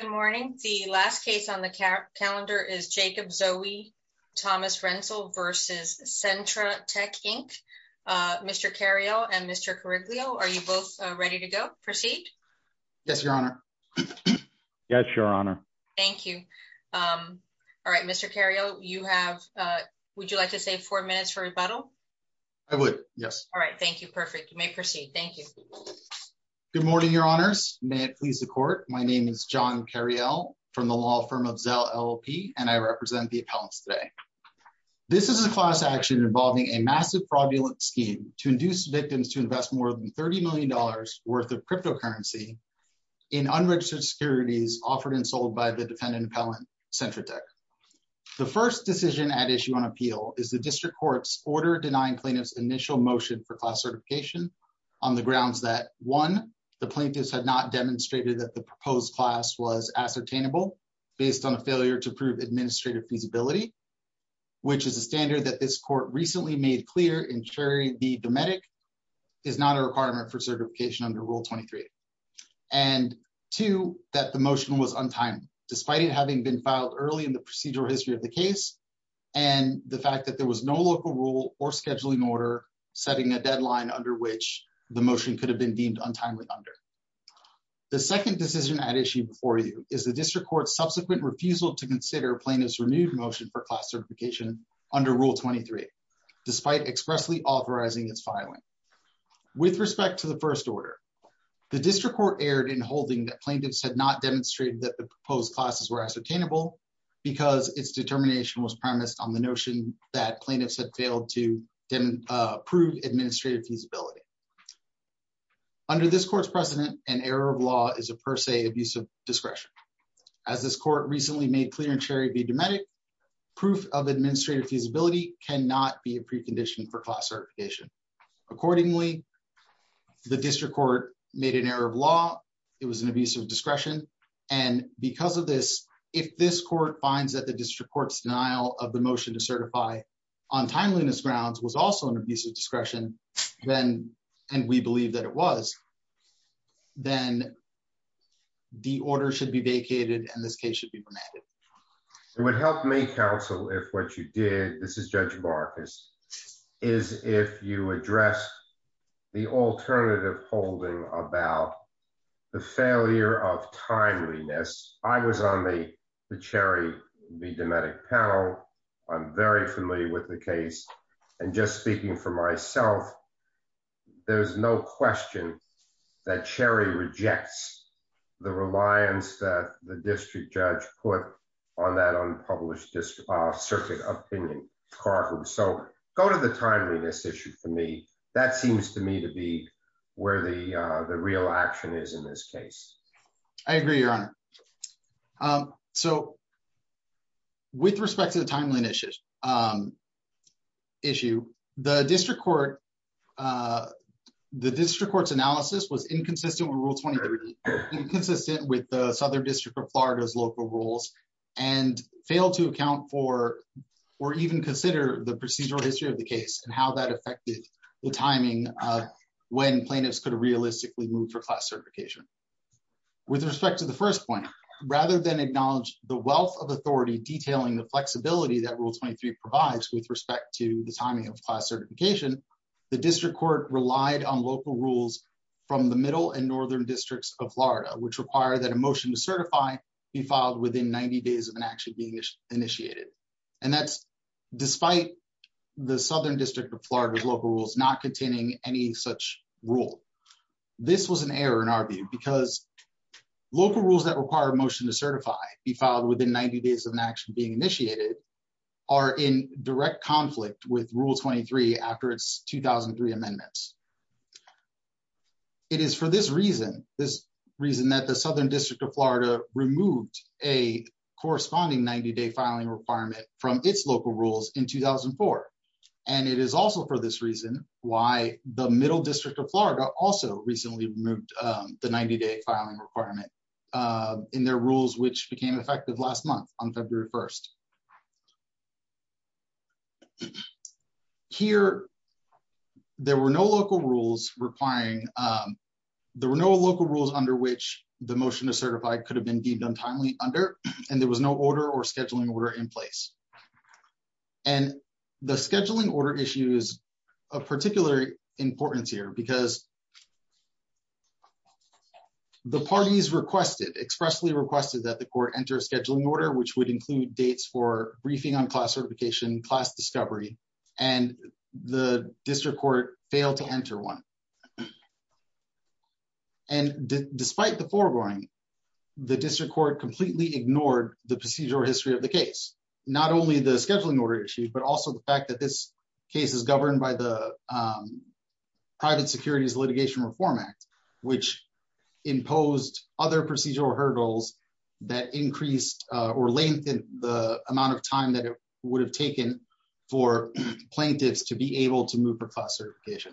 Good morning. The last case on the calendar is Jacob Zoe Thomas Rensel v. Centra Tech, Inc. Mr. Carrillo and Mr. Carriglio, are you both ready to go? Proceed? Yes, Your Honor. Yes, Your Honor. Thank you. All right, Mr. Carrillo, would you like to save four minutes for rebuttal? I would, yes. All right, thank you. Perfect. You may proceed. Thank you. Good morning, Your Honors. May it please the court, my name is John Carrillo from the law firm of Zelle LLP, and I represent the appellants today. This is a class action involving a massive fraudulent scheme to induce victims to invest more than $30 million worth of cryptocurrency in unregistered securities offered and sold by the defendant appellant, Centra Tech. The first decision at issue on appeal is the district court's order denying plaintiffs initial motion for class certification on the grounds that one, the plaintiffs had not demonstrated that the proposed class was ascertainable based on a failure to prove administrative feasibility, which is a standard that this court recently made clear in Cherry v. Dometic is not a requirement for certification under Rule 23. And two, that the motion was untimely, despite it having been filed early in the procedural history of the case, and the fact that there was no local rule or scheduling order setting a deadline under which the motion could have been deemed untimely under. The second decision at issue before you is the district court's subsequent refusal to consider plaintiffs' renewed motion for class certification under Rule 23, despite expressly authorizing its filing. With respect to the first order, the district court erred in holding that plaintiffs had not demonstrated that the proposed classes were ascertainable because its determination was premised on the notion that plaintiffs had failed to prove administrative feasibility. Under this court's precedent, an error of law is a per se abuse of discretion. As this court recently made clear in Cherry v. Dometic, proof of administrative feasibility cannot be a precondition for class certification. Accordingly, the district court made an error of law, it was an abuse of discretion, and because of this, if this court finds that the district court's denial of the motion to certify on timeliness grounds was also an abuse of discretion, and we believe that it was, then the order should be vacated and this case should be remanded. It would help me, counsel, if what you did, this is Judge Marcus, is if you address the alternative holding about the failure of timeliness. I was on the Cherry v. Dometic panel. I'm very familiar with the case. And just speaking for myself, there's no question that Cherry rejects the reliance that the district judge put on that unpublished circuit opinion. So, go to the timeliness issue for me. That seems to me to be where the real action is in this case. I agree, Your Honor. So, with respect to the timeliness issue, the district court's analysis was inconsistent with Rule 23, inconsistent with the Southern District of Florida's local rules, and failed to account for, or even consider the procedural history of the case and how that affected the timing of when plaintiffs could realistically move for class certification. With respect to the first point, rather than acknowledge the wealth of authority detailing the flexibility that Rule 23 provides with respect to the timing of class certification, the district court relied on local rules from the Middle and Northern Districts of Florida, which require that a motion to certify be filed within 90 days of an action being initiated. And that's despite the Southern District of Florida's local rules not containing any such rule. This was an error in our view because local rules that require a motion to certify be filed within 90 days of an action being initiated are in direct conflict with Rule 23 after its 2003 amendments. It is for this reason that the Southern District of Florida removed a corresponding 90-day filing requirement from its local rules in 2004. And it is also for this reason why the Middle District of Florida also recently removed the 90-day filing requirement in their rules, which became effective last month on February 1st. Here, there were no local rules under which the motion to certify could have been deemed untimely under, and there was no order or scheduling order in place. And the scheduling order issue is of particular importance here because the parties expressly requested that the court enter a scheduling order, which would include dates for briefing on class certification, class discovery, and the district court failed to enter one. And despite the foregoing, the district court completely ignored the procedural history of the case, not only the scheduling order issue, but also the fact that this case is governed by the Private Securities Litigation Reform Act, which imposed other procedural hurdles that increased or lengthened the amount of time that it would have taken for plaintiffs to be able to move for class certification.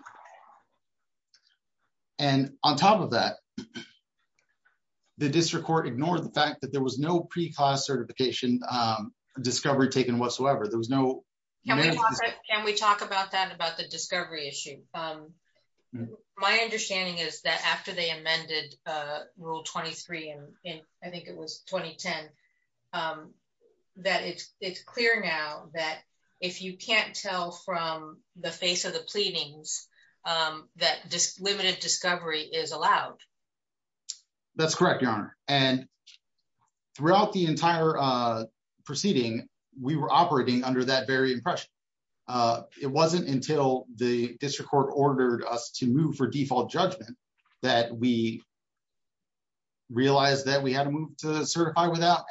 And on top of that, the district court ignored the fact that there was no pre-class certification discovery taken whatsoever. There was no... That it's clear now that if you can't tell from the face of the pleadings, that just limited discovery is allowed. That's correct, Your Honor. And throughout the entire proceeding, we were operating under that very impression. It wasn't until the district court ordered us to move for default judgment that we realized that we had to move to certify without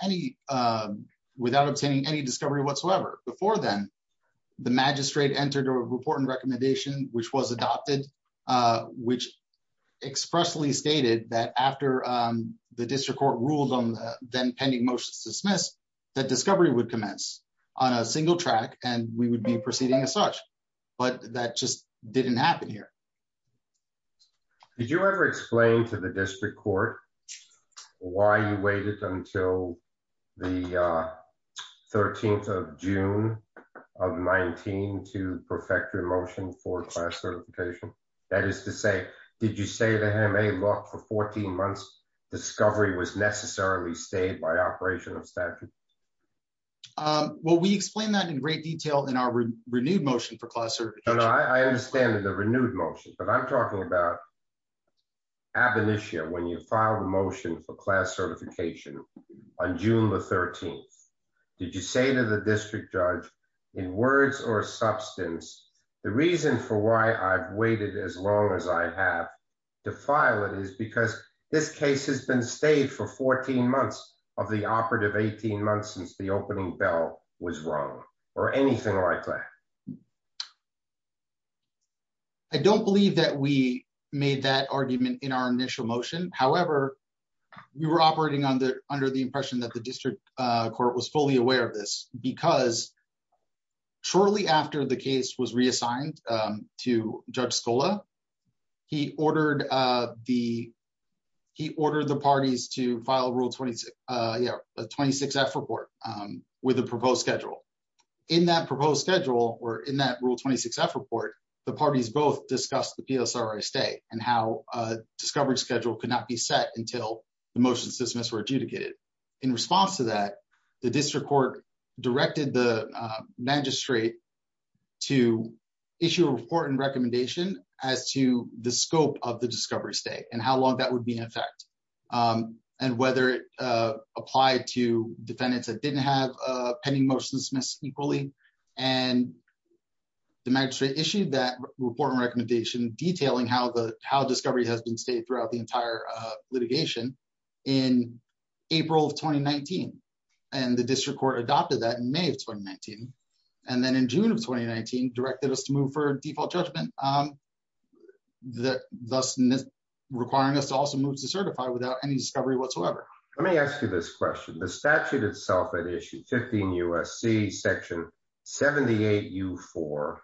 obtaining any discovery whatsoever. Before then, the magistrate entered a report and recommendation, which was adopted, which expressly stated that after the district court ruled on the pending motion to dismiss, that discovery would commence on a single track and we would be proceeding as such. But that just didn't happen here. Did you ever explain to the district court why you waited until the 13th of June of 19 to perfect your motion for class certification? That is to say, did you say to him, hey, look, for 14 months, discovery was necessarily stayed by operation of statute? Well, we explained that in great detail in our renewed motion for class certification. I understand the renewed motion, but I'm talking about ab initio when you file a motion for class certification on June the 13th. Did you say to the district judge in words or substance, the reason for why I've waited as long as I have to file it is because this case has been stayed for 14 months of the operative 18 months since the opening bell was wrong or anything like that. I don't believe that we made that argument in our initial motion. However, we were operating on the under the impression that the district court was fully aware of this because shortly after the case was reassigned to Judge Scola. He ordered the he ordered the parties to file a rule 26, a 26 F report with a proposed schedule in that proposed schedule or in that rule 26 F report. The parties both discussed the PSR stay and how discovered schedule could not be set until the motions dismissed were adjudicated. In response to that, the district court directed the magistrate to issue a report and recommendation as to the scope of the discovery state and how long that would be in effect. And whether it applied to defendants that didn't have pending motion dismissed equally, and the magistrate issued that report and recommendation detailing how the how discovery has been stayed throughout the entire litigation in April of 2019, and the district Let me ask you this question, the statute itself at issue 15 USC section 78 you for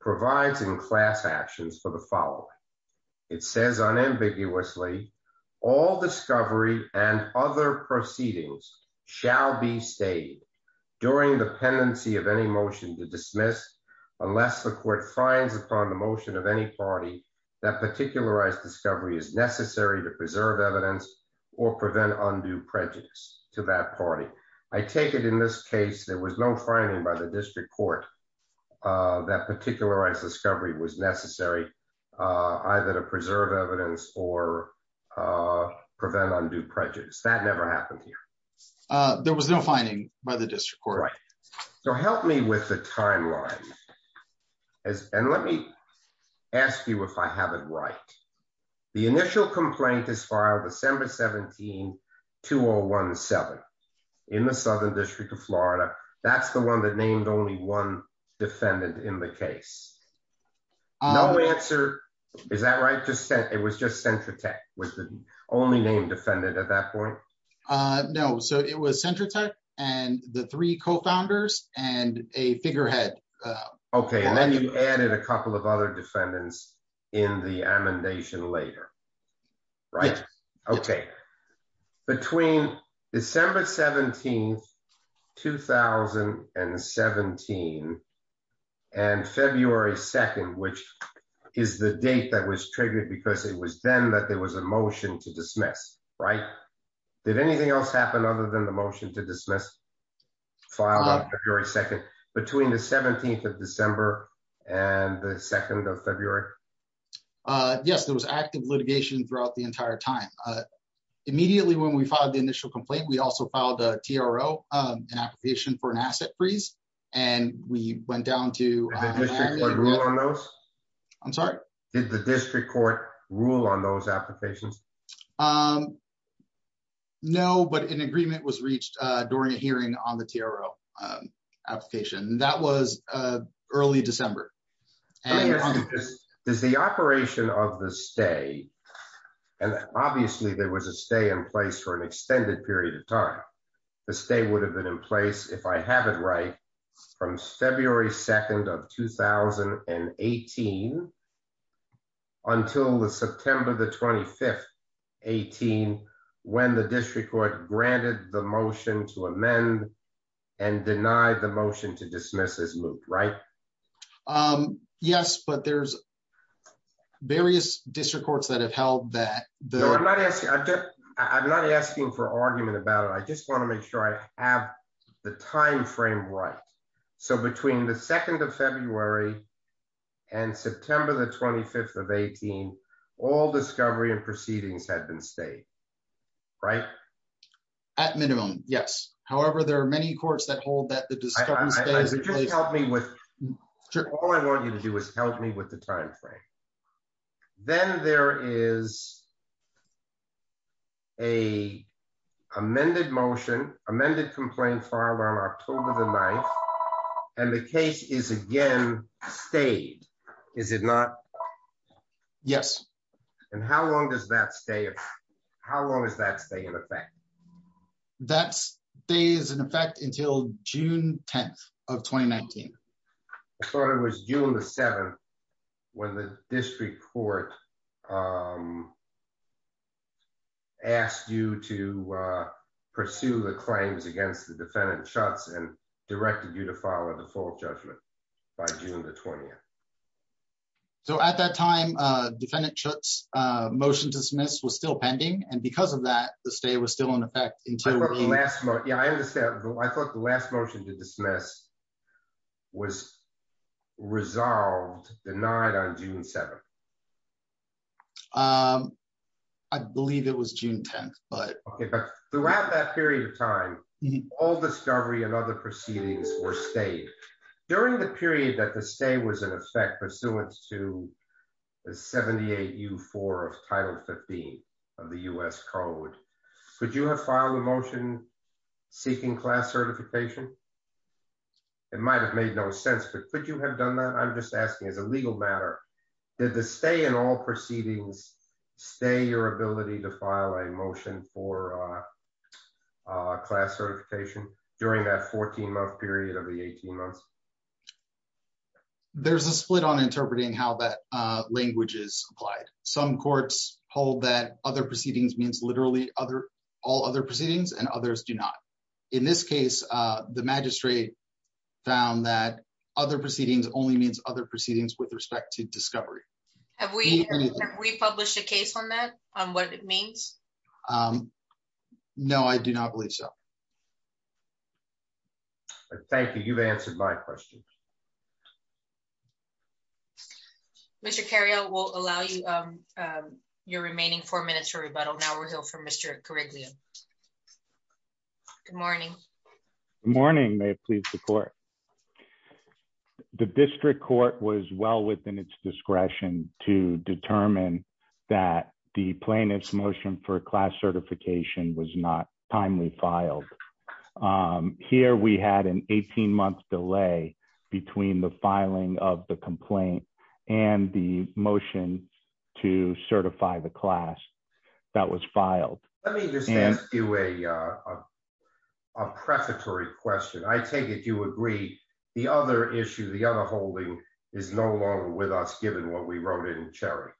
provides in class actions for the following. It says unambiguously all discovery and other proceedings shall be stayed during the pendency of any motion to dismiss unless the court finds upon the motion of any party that particularized discovery is necessary to preserve evidence or prevent undue prejudice to that party. I take it in this case, there was no finding by the district court that particularized discovery was necessary, either to preserve evidence or prevent undue prejudice that never happened here. There was no finding by the district court. So help me with the timeline. And let me ask you if I have it right. The initial complaint is filed December 17 2017 in the southern district of Florida, that's the one that named only one defendant in the case. Is that right to say it was just center tech was the only name defendant at that point. No, so it was center tech, and the three co founders and a figurehead. Okay, and then you added a couple of other defendants in the amendation later. Right. Okay. Between December 17 2017 and February 2, which is the date that was triggered because it was then that there was a motion to dismiss. Right. Did anything else happen other than the motion to dismiss. Your second between the 17th of December, and the second of February. Yes, there was active litigation throughout the entire time. Immediately when we filed the initial complaint we also filed a TRO application for an asset freeze, and we went down to those. I'm sorry, did the district court rule on those applications. No, but an agreement was reached during a hearing on the TRO application that was early December. Is the operation of the stay. And obviously there was a stay in place for an extended period of time. The stay would have been in place if I have it right from February 2 of 2018. Until the September the 25th, 18, when the district court granted the motion to amend and deny the motion to dismiss this loop right. Yes, but there's various district courts that have held that the I'm not asking I'm not asking for argument about I just want to make sure I have the timeframe right. So between the second of February, and September the 25th of 18, all discovery and proceedings had been stayed right at minimum, yes. However, there are many courts that hold that the help me with. All I want you to do is help me with the timeframe. Then there is a amended motion amended complaint filed on October the night. And the case is again stayed. Is it not. Yes. And how long does that stay. How long is that stay in effect. That's days in effect until June 10 of 2019. It was June the seventh. When the district court asked you to pursue the claims against the defendant shots and directed you to follow the full judgment by June the 20th. So at that time, defendant shots motion to dismiss was still pending and because of that, the stay was still in effect until the last month. Yeah, I understand. I thought the last motion to dismiss was resolved denied on June 7. I believe it was June 10, but throughout that period of time, all discovery and other proceedings were stayed during the period that the stay was in effect pursuant to the 78 you for of title 15 of the US code. Could you have filed a motion, seeking class certification. It might have made no sense but could you have done that I'm just asking as a legal matter. Did the stay in all proceedings. Stay your ability to file a motion for class certification during that 14 month period of the 18 months. There's a split on interpreting how that language is applied. Some courts hold that other proceedings means literally other all other proceedings and others do not. In this case, the magistrate found that other proceedings only means other proceedings with respect to discovery. We publish a case on that, on what it means. No, I do not believe so. Thank you. You've answered my question. Mr carry out will allow you your remaining four minutes for rebuttal now we're here for Mr. Good morning. Morning may please support the district court was well within its discretion to determine that the plaintiff's motion for class certification was not timely filed here we had an 18 month delay between the filing of the complaint, and the motion to certify the class that was filed. Let me just ask you a prefatory question I take it you agree. The other issue the other holding is no longer with us given what we wrote in cherry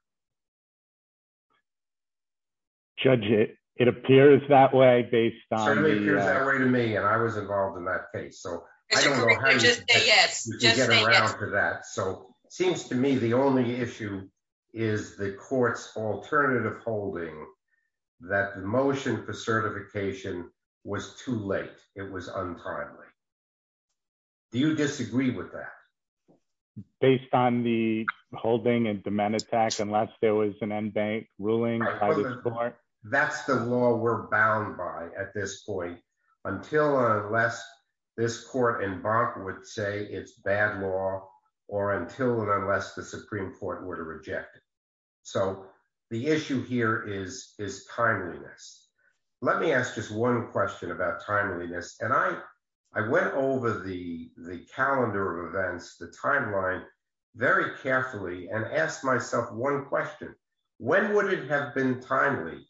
judge it, it appears that way based on me and I was involved in that case so that so seems to me the only issue is the courts alternative holding that the motion for certification was too late, it was untimely. Do you disagree with that. Based on the holding and demand attack unless there was an end bank ruling. That's the law we're bound by at this point, until or unless this court and Bob would say it's bad law, or until and unless the Supreme Court were to reject. So, the issue here is, is timeliness. Let me ask just one question about timeliness and I, I went over the, the calendar of events the timeline, very carefully and ask myself one question. When would it have been timely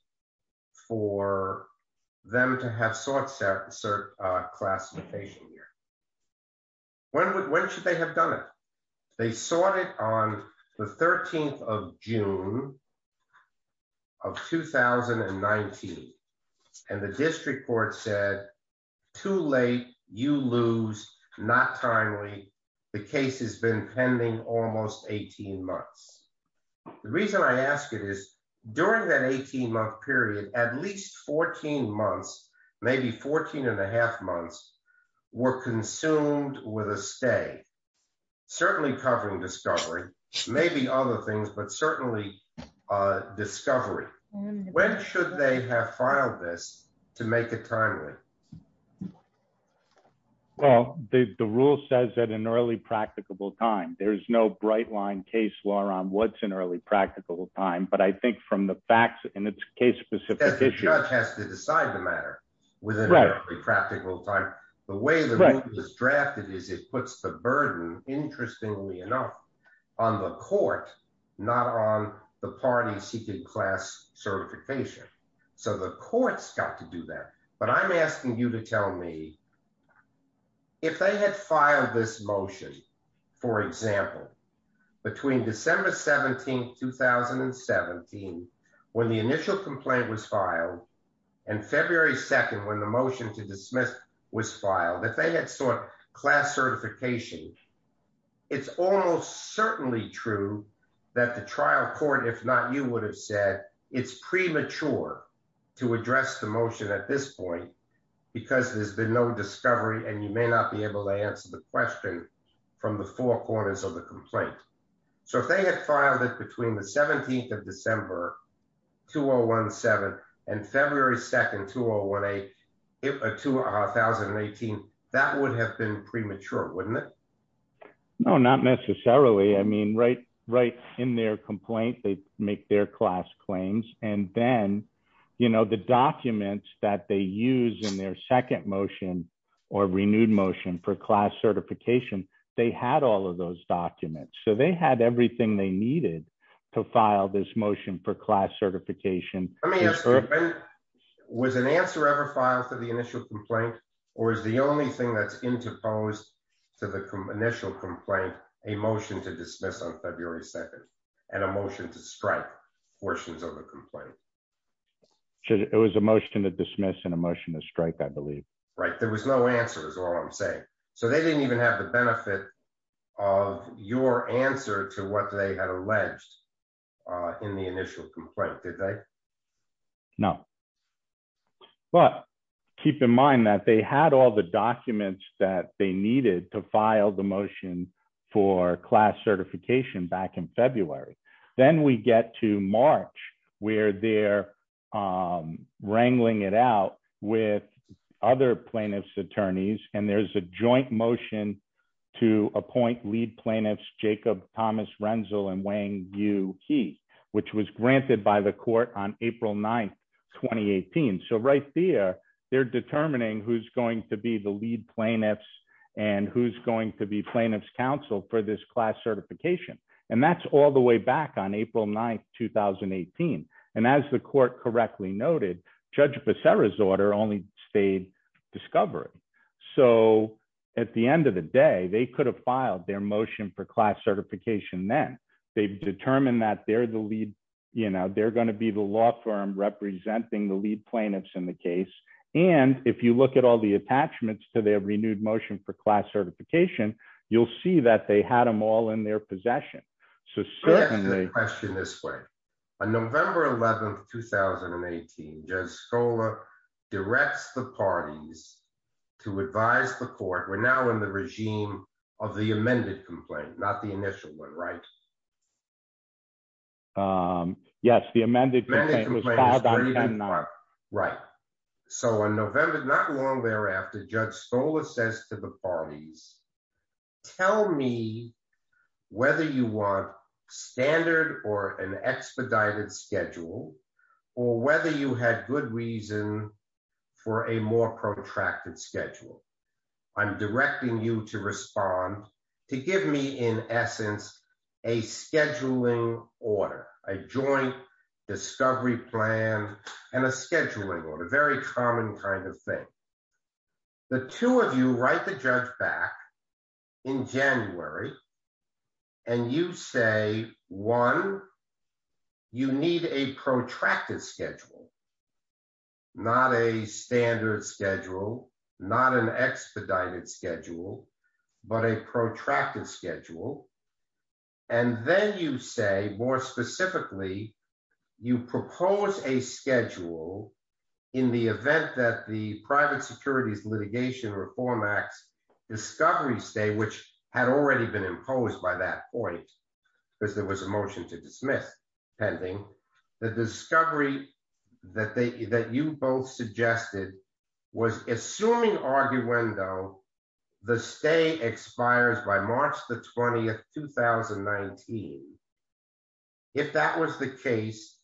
for them to have sorts of certification here. When would when should they have done it. They saw it on the 13th of June of 2019. And the district court said too late, you lose, not timely. The case has been pending almost 18 months. The reason I asked it is during that 18 month period, at least 14 months, maybe 14 and a half months were consumed with a stay, certainly covering discovery, maybe other things but certainly discovery. When should they have filed this to make it timely. Well, the rule says that in early practicable time, there's no bright line case law on what's an early practical time but I think from the facts and it's case specific issue has to decide the matter within practical time, the way this drafted is it puts the burden, interestingly enough, on the court, not on the party seeking class certification. So the courts got to do that, but I'm asking you to tell me if they had filed this motion. For example, between December 17 2017 when the initial complaint was filed and February 2 when the motion to dismiss was filed that they had sort of class certification. It's almost certainly true that the trial court if not you would have said it's premature to address the motion at this point, because there's been no discovery and you may not be able to answer the question from the four corners of the complaint. So if they had filed it between the 17th of December 2017 and February 2 2018, that would have been premature, wouldn't it. No, not necessarily I mean right right in their complaint they make their class claims, and then you know the documents that they use in their second motion or renewed motion for class certification. They had all of those documents so they had everything they needed to file this motion for class certification. Was an answer ever filed for the initial complaint, or is the only thing that's interposed to the initial complaint, a motion to dismiss on February 2, and a motion to strike portions of the complaint. It was a motion to dismiss and emotion to strike I believe right there was no answers or I'm saying, so they didn't even have the benefit of your answer to what they had alleged in the initial complaint today. No. But keep in mind that they had all the documents that they needed to file the motion for class certification back in February, then we get to March, where they're wrangling it out with other plaintiffs attorneys and there's a joint motion to appoint lead plaintiffs Jacob Thomas Renzel and weighing you, he, which was granted by the court on April 9 2018 so right there. They're determining who's going to be the lead plaintiffs, and who's going to be plaintiffs counsel for this class certification. And that's all the way back on April 9 2018. And as the court correctly noted, Judge Becerra's order only stayed discovery. So, at the end of the day, they could have filed their motion for class certification then they've determined that they're the lead. You know they're going to be the law firm representing the lead plaintiffs in the case. And if you look at all the attachments to their renewed motion for class certification, you'll see that they had them all in their possession. So certainly the question this way. On November 11 2018 just scholar directs the parties to advise the court we're now in the regime of the amended complaint, not the initial one right. Yes, the amended. Right. So on November, not long thereafter, Judge scholar says to the parties, tell me whether you want standard or an expedited schedule, or whether you had good reason for a more protracted schedule. I'm directing you to respond to give me in essence, a scheduling order, a joint discovery plan, and a scheduling order very common kind of thing. The two of you write the judge back in January. And you say, one. You need a protracted schedule. Not a standard schedule, not an expedited schedule, but a protracted schedule. And then you say, more specifically, you propose a schedule in the event that the private securities litigation reform acts discovery stay which had already been imposed by that point. Because there was a motion to dismiss pending the discovery that they that you both suggested was assuming argue window. The stay expires by March the 20th 2019. If that was the case,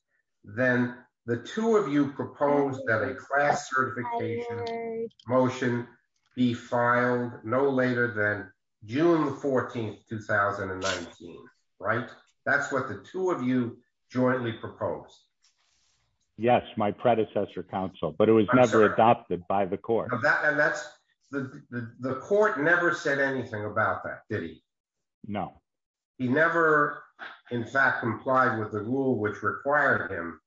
then the two of you propose that a class certification motion be filed, no later than June 14 2019. Right. That's what the two of you jointly proposed. Yes, my predecessor counsel, but it was never adopted by the court. The court never said anything about that, did he know he never, in fact, complied with the rule which required him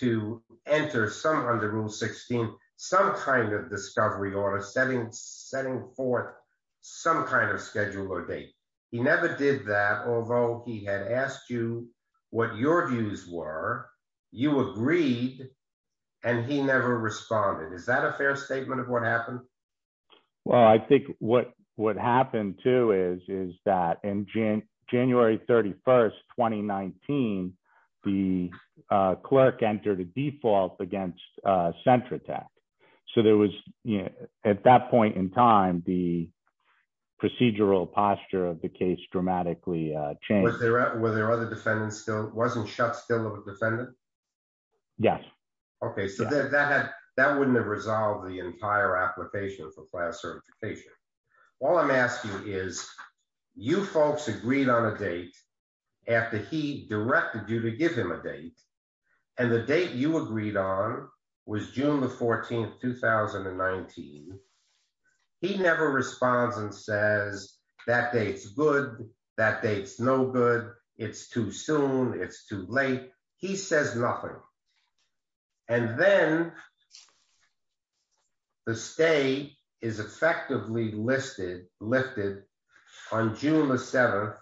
to enter some under Rule 16, some kind of discovery or a setting setting for some kind of schedule or date. He never did that, although he had asked you what your views were. You agreed. And he never responded. Is that a fair statement of what happened. Well, I think what what happened to is is that in January, January 31 2019 the clerk entered a default against center attack. So there was, you know, at that point in time, the procedural posture of the case dramatically change. Were there other defendants still wasn't shot still have a defendant. Yes. Okay, so that that wouldn't have resolved the entire application for class certification. All I'm asking is you folks agreed on a date. After he directed you to give him a date, and the date you agreed on was June the 14th 2019. He never responds and says that dates good that dates no good. It's too soon. It's too late. He says nothing. And then The stay is effectively listed lifted on June the seventh,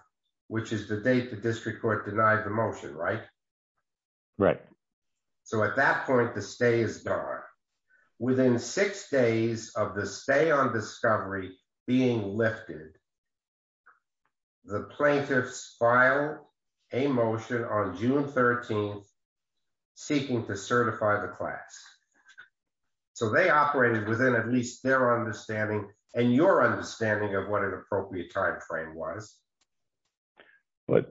which is the date the district court denied the motion right. Right. So at that point, the stay is gone. Within six days of the stay on discovery being lifted. The plaintiffs file a motion on June 13 seeking to certify the class. So they operated within at least their understanding and your understanding of what an appropriate timeframe was. Upon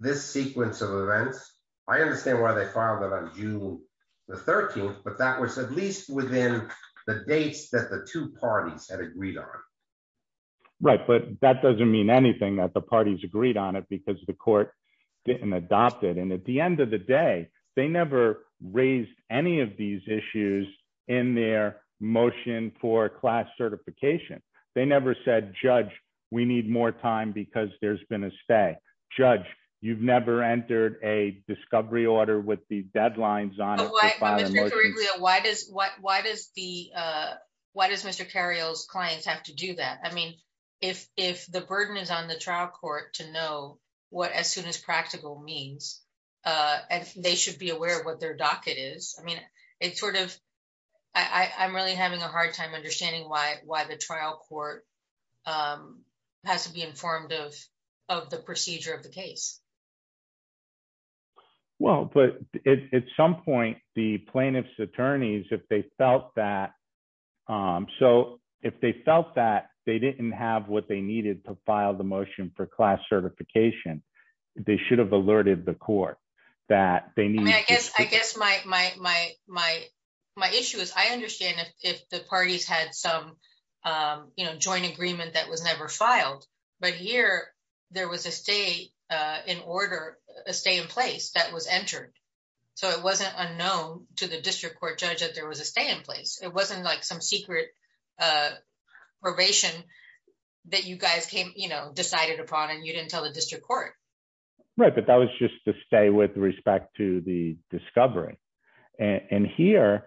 this sequence of events. I understand why they filed it on June the 13th, but that was at least within the dates that the two parties had agreed on Right, but that doesn't mean anything that the parties agreed on it because the court. And at the end of the day, they never raised any of these issues in their motion for class certification. They never said, Judge, we need more time because there's been a stay. Judge, you've never entered a discovery order with the deadlines on Why does, why does the, why does Mr. Cario's clients have to do that. I mean, if, if the burden is on the trial court to know what as soon as practical means. They should be aware of what their docket is. I mean, it's sort of, I'm really having a hard time understanding why, why the trial court. Has to be informed of of the procedure of the case. Well, but at some point, the plaintiffs attorneys if they felt that So if they felt that they didn't have what they needed to file the motion for class certification. They should have alerted the court that they need. I guess, I guess my, my, my, my, my issue is I understand if the parties had some You know, joint agreement that was never filed, but here there was a stay in order a stay in place that was entered. So it wasn't unknown to the district court judge that there was a stay in place. It wasn't like some secret Probation that you guys came, you know, decided upon and you didn't tell the district court. Right. But that was just to stay with respect to the discovery. And here,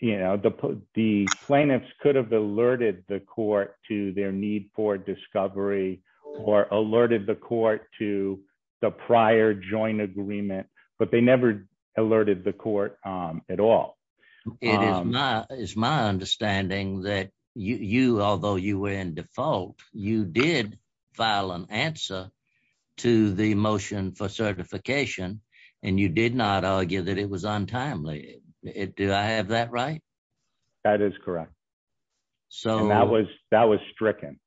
you know, the, the plaintiffs could have alerted the court to their need for discovery or alerted the court to the prior joint agreement, but they never alerted the court at all. It is my, it's my understanding that you although you were in default, you did file an answer to the motion for certification and you did not argue that it was untimely it do I have that right. That is correct. So that was that was stricken.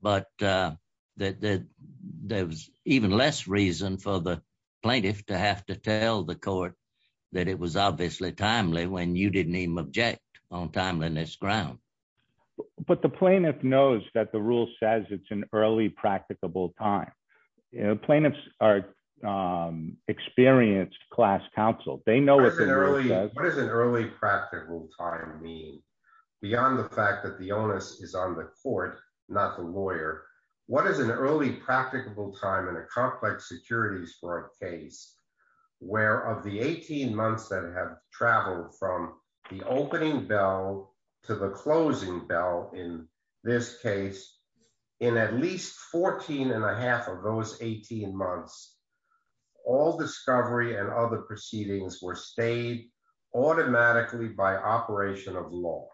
But that there was even less reason for the plaintiff to have to tell the court that it was obviously timely when you didn't even object on timeliness ground. But the plaintiff knows that the rule says it's an early practicable time. You know, plaintiffs are experienced class counsel, they know it's an early, what is an early practical time mean beyond the fact that the onus is on the court, not the lawyer. What is an early practical time in a complex securities for a case where of the 18 months that have traveled from the opening bell to the closing bell in this case in at least 14 and a half of those 18 months. All discovery and other proceedings were stayed automatically by operation of law.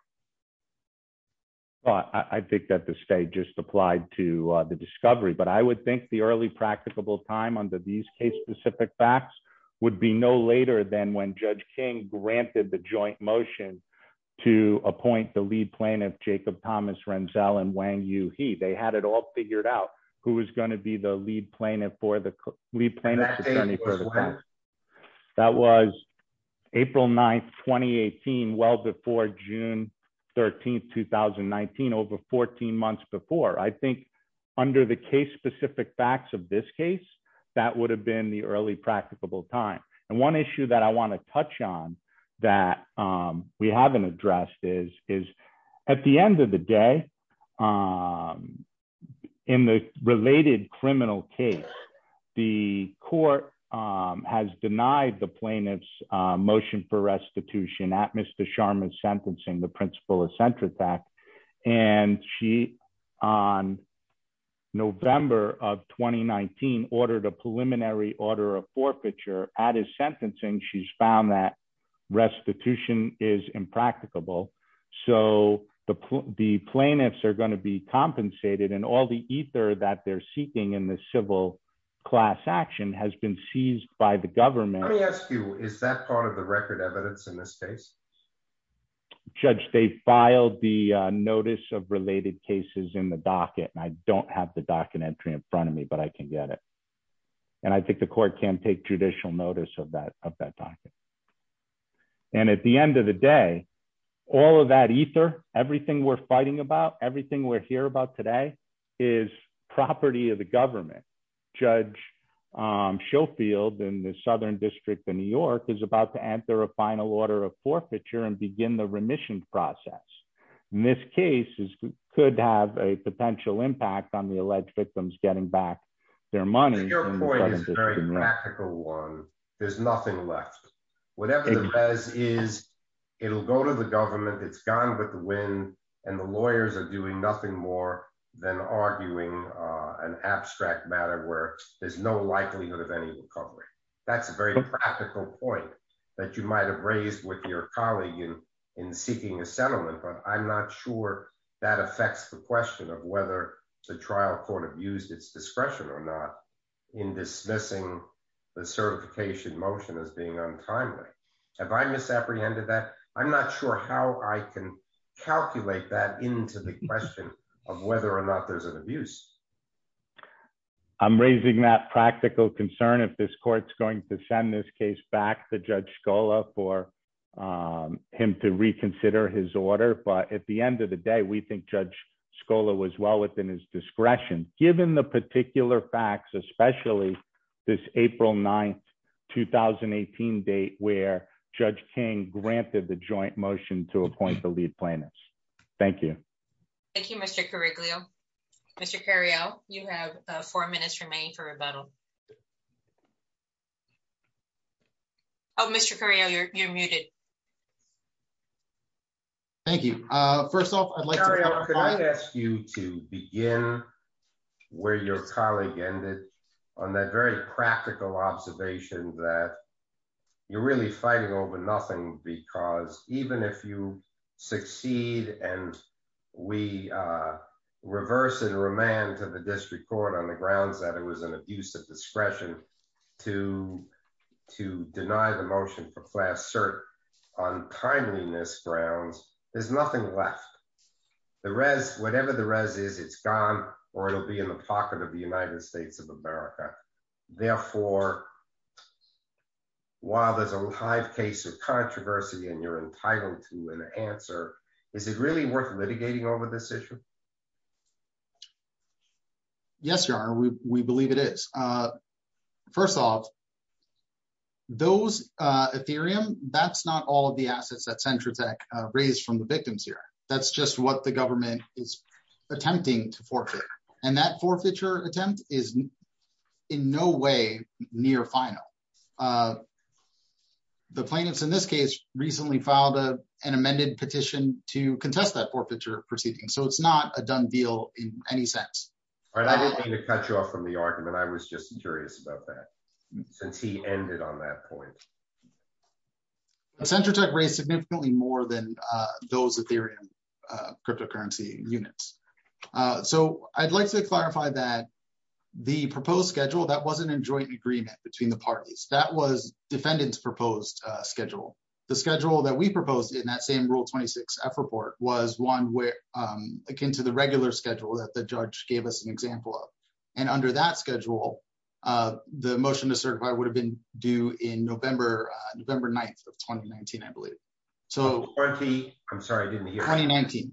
I think that the state just applied to the discovery but I would think the early practicable time under these case specific facts would be no later than when Judge King granted the joint motion to appoint the lead plaintiff Jacob Thomas Renzell and when you figured out who was going to be the lead plaintiff for the lead plaintiff. That was April 9 2018 well before June 13 2019 over 14 months before I think under the case specific facts of this case, that would have been the early practicable time. And one issue that I want to touch on that we haven't addressed is, is, at the end of the day, in the related criminal case. The court has denied the plaintiffs motion for restitution at Mr Sharma sentencing the principle of center fact, and she on November of 2019 ordered a preliminary order of forfeiture at his sentencing she's found that restitution is impracticable. So, the, the plaintiffs are going to be compensated and all the ether that they're seeking in the civil class action has been seized by the government. Let me ask you, is that part of the record evidence in this case. Judge they filed the notice of related cases in the docket and I don't have the docket entry in front of me but I can get it. And I think the court can take judicial notice of that of that document. And at the end of the day, all of that ether, everything we're fighting about everything we're here about today is property of the government judge show field in the southern district of New York is about to enter a final order of forfeiture and begin the remission process. Miss cases could have a potential impact on the alleged victims getting back their money. Your point is very practical one. There's nothing left. Whatever it is, it'll go to the government it's gone with the wind, and the lawyers are doing nothing more than arguing an abstract matter where there's no likelihood of any recovery. That's a very practical point that you might have raised with your colleague in in seeking a settlement but I'm not sure that affects the question of whether the trial court abused its discretion or not in dismissing the certification motion as being on time. Have I misapprehended that I'm not sure how I can calculate that into the question of whether or not there's an abuse. I'm raising that practical concern if this court's going to send this case back to Judge scholar for him to reconsider his order but at the end of the day we think Judge scholar was well within his discretion, given the particular facts, especially this April 9 2018 date where Judge King granted the joint motion to appoint the lead plaintiffs. Thank you. Thank you, Mr curriculum. Mr carry out, you have four minutes remain for rebuttal. Oh, Mr career you're muted. Thank you. First off, I'd like to ask you to begin where your colleague ended on that very practical observation that you're really fighting over nothing, because even if you succeed, and we reverse and remand to the district court on the grounds that it was an abuse of discretion to to deny the motion for class cert on timeliness grounds, there's nothing left the rest, whatever the res is it's gone, or it'll be in the pocket of the United States of America. Therefore, while there's a live case of controversy and you're entitled to an answer. Is it really worth litigating over this issue. Yes, we believe it is. First off, those Ethereum, that's not all of the assets that center tech raised from the victims here, that's just what the government is attempting to forfeit, and that forfeiture attempt is in no way near final. The plaintiffs in this case, recently filed a, an amended petition to contest that forfeiture proceeding so it's not a done deal in any sense. All right, I didn't mean to cut you off from the argument I was just curious about that. Since he ended on that point. Center tech race significantly more than those Ethereum cryptocurrency units. So, I'd like to clarify that the proposed schedule that wasn't in joint agreement between the parties that was defendants proposed schedule, the schedule that we proposed in that same rule 26 effort board was one where akin to the regular schedule that the So, I'm sorry I didn't hear. 2019.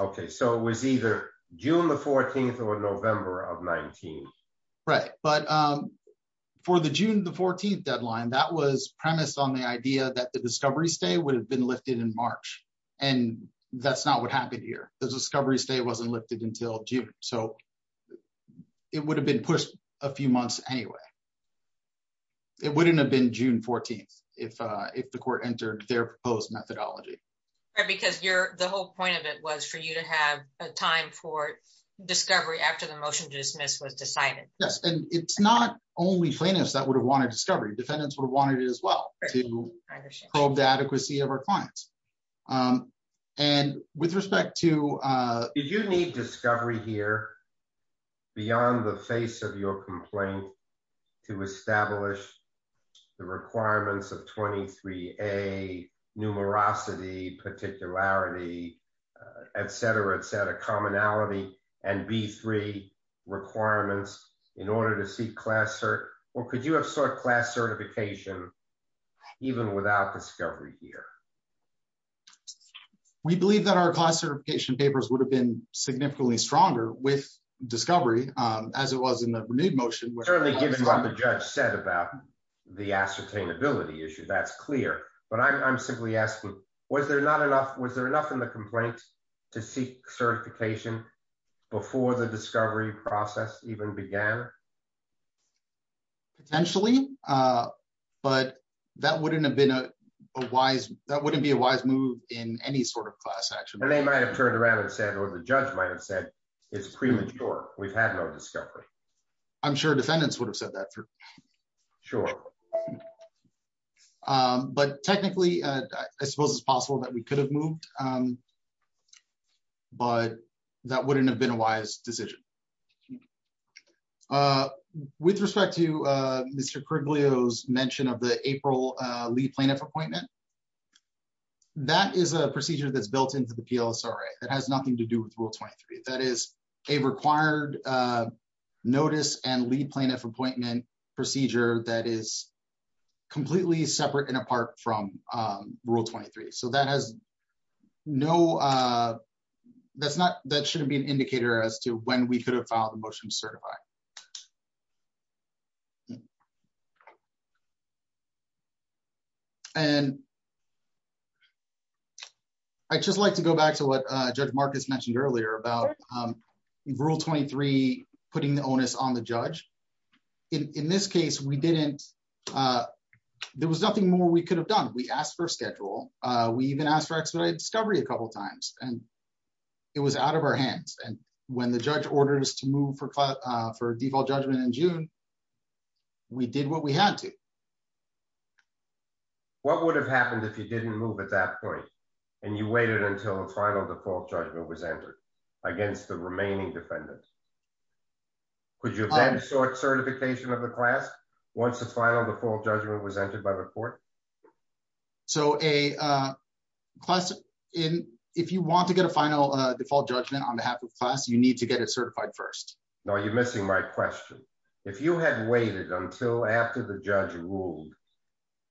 Okay, so it was either June the 14th or November of 19. Right. But for the June the 14th deadline that was premised on the idea that the discovery stay would have been lifted in March, and that's not what happened here, the discovery stay wasn't lifted until June, so it would have been pushed a few months anyway. It wouldn't have been June 14, if, if the court entered their proposed methodology. Because you're the whole point of it was for you to have a time for discovery after the motion to dismiss was decided. Yes, and it's not only plaintiffs that would have wanted discovery defendants were wanted as well to probe the adequacy of our clients. And with respect to you need discovery here. Beyond the face of your complaint to establish the requirements of 23 a numerosity particularity, etc etc commonality and be three requirements in order to see class or, or could you have sought class certification. Even without discovery here. We believe that our class certification papers would have been significantly stronger with discovery, as it was in the renewed motion we're certainly given what the judge said about the ascertain ability issue that's clear, but I'm simply asking, was there not enough was there enough in the complaint to seek certification. Before the discovery process even began. Potentially, but that wouldn't have been a wise, that wouldn't be a wise move in any sort of class actually they might have turned around and said or the judge might have said is premature, we've had no discovery. I'm sure defendants would have said that. Sure. But technically, I suppose it's possible that we could have moved. But that wouldn't have been a wise decision. With respect to Mr. mentioned of the April lead plaintiff appointment. That is a procedure that's built into the appeals sorry that has nothing to do with rule 23 that is a required notice and lead plaintiff appointment procedure that is completely separate and apart from rule 23 so that has no. That's not that shouldn't be an indicator as to when we could have found the motion certified. Yeah. And I just like to go back to what Judge Marcus mentioned earlier about rule 23, putting the onus on the judge. In this case we didn't. There was nothing more we could have done we asked for schedule. We even asked for expedited discovery a couple times, and it was out of our hands and when the judge orders to move for for default judgment in June, we did what we had to. What would have happened if you didn't move at that point. And you waited until the final default judgment was entered against the remaining defendant. Could you sort certification of the class. Once the final the full judgment was entered by the court. So a class in, if you want to get a final default judgment on behalf of class you need to get it certified first know you're missing my question. If you had waited until after the judge ruled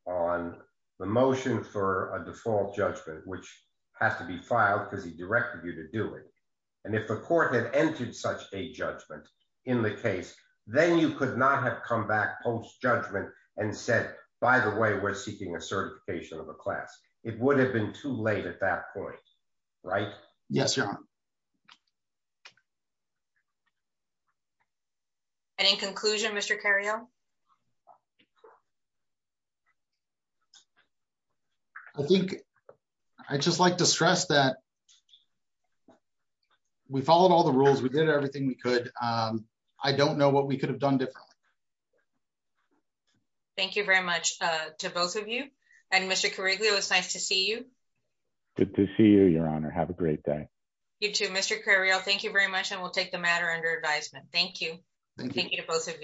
on the motion for a default judgment, which has to be filed because And if the court had entered such a judgment in the case, then you could not have come back post judgment and said, By the way, we're seeking a certification of a class, it would have been too late at that point. Right. Yes. Any conclusion Mr carry on. I think I just like to stress that we followed all the rules we did everything we could. I don't know what we could have done differently. Thank you very much to both of you. And Mr correctly it was nice to see you. Good to see you, Your Honor. Have a great day. Thank you very much and we'll take the matter under advisement. Thank you. Thank you to both of you.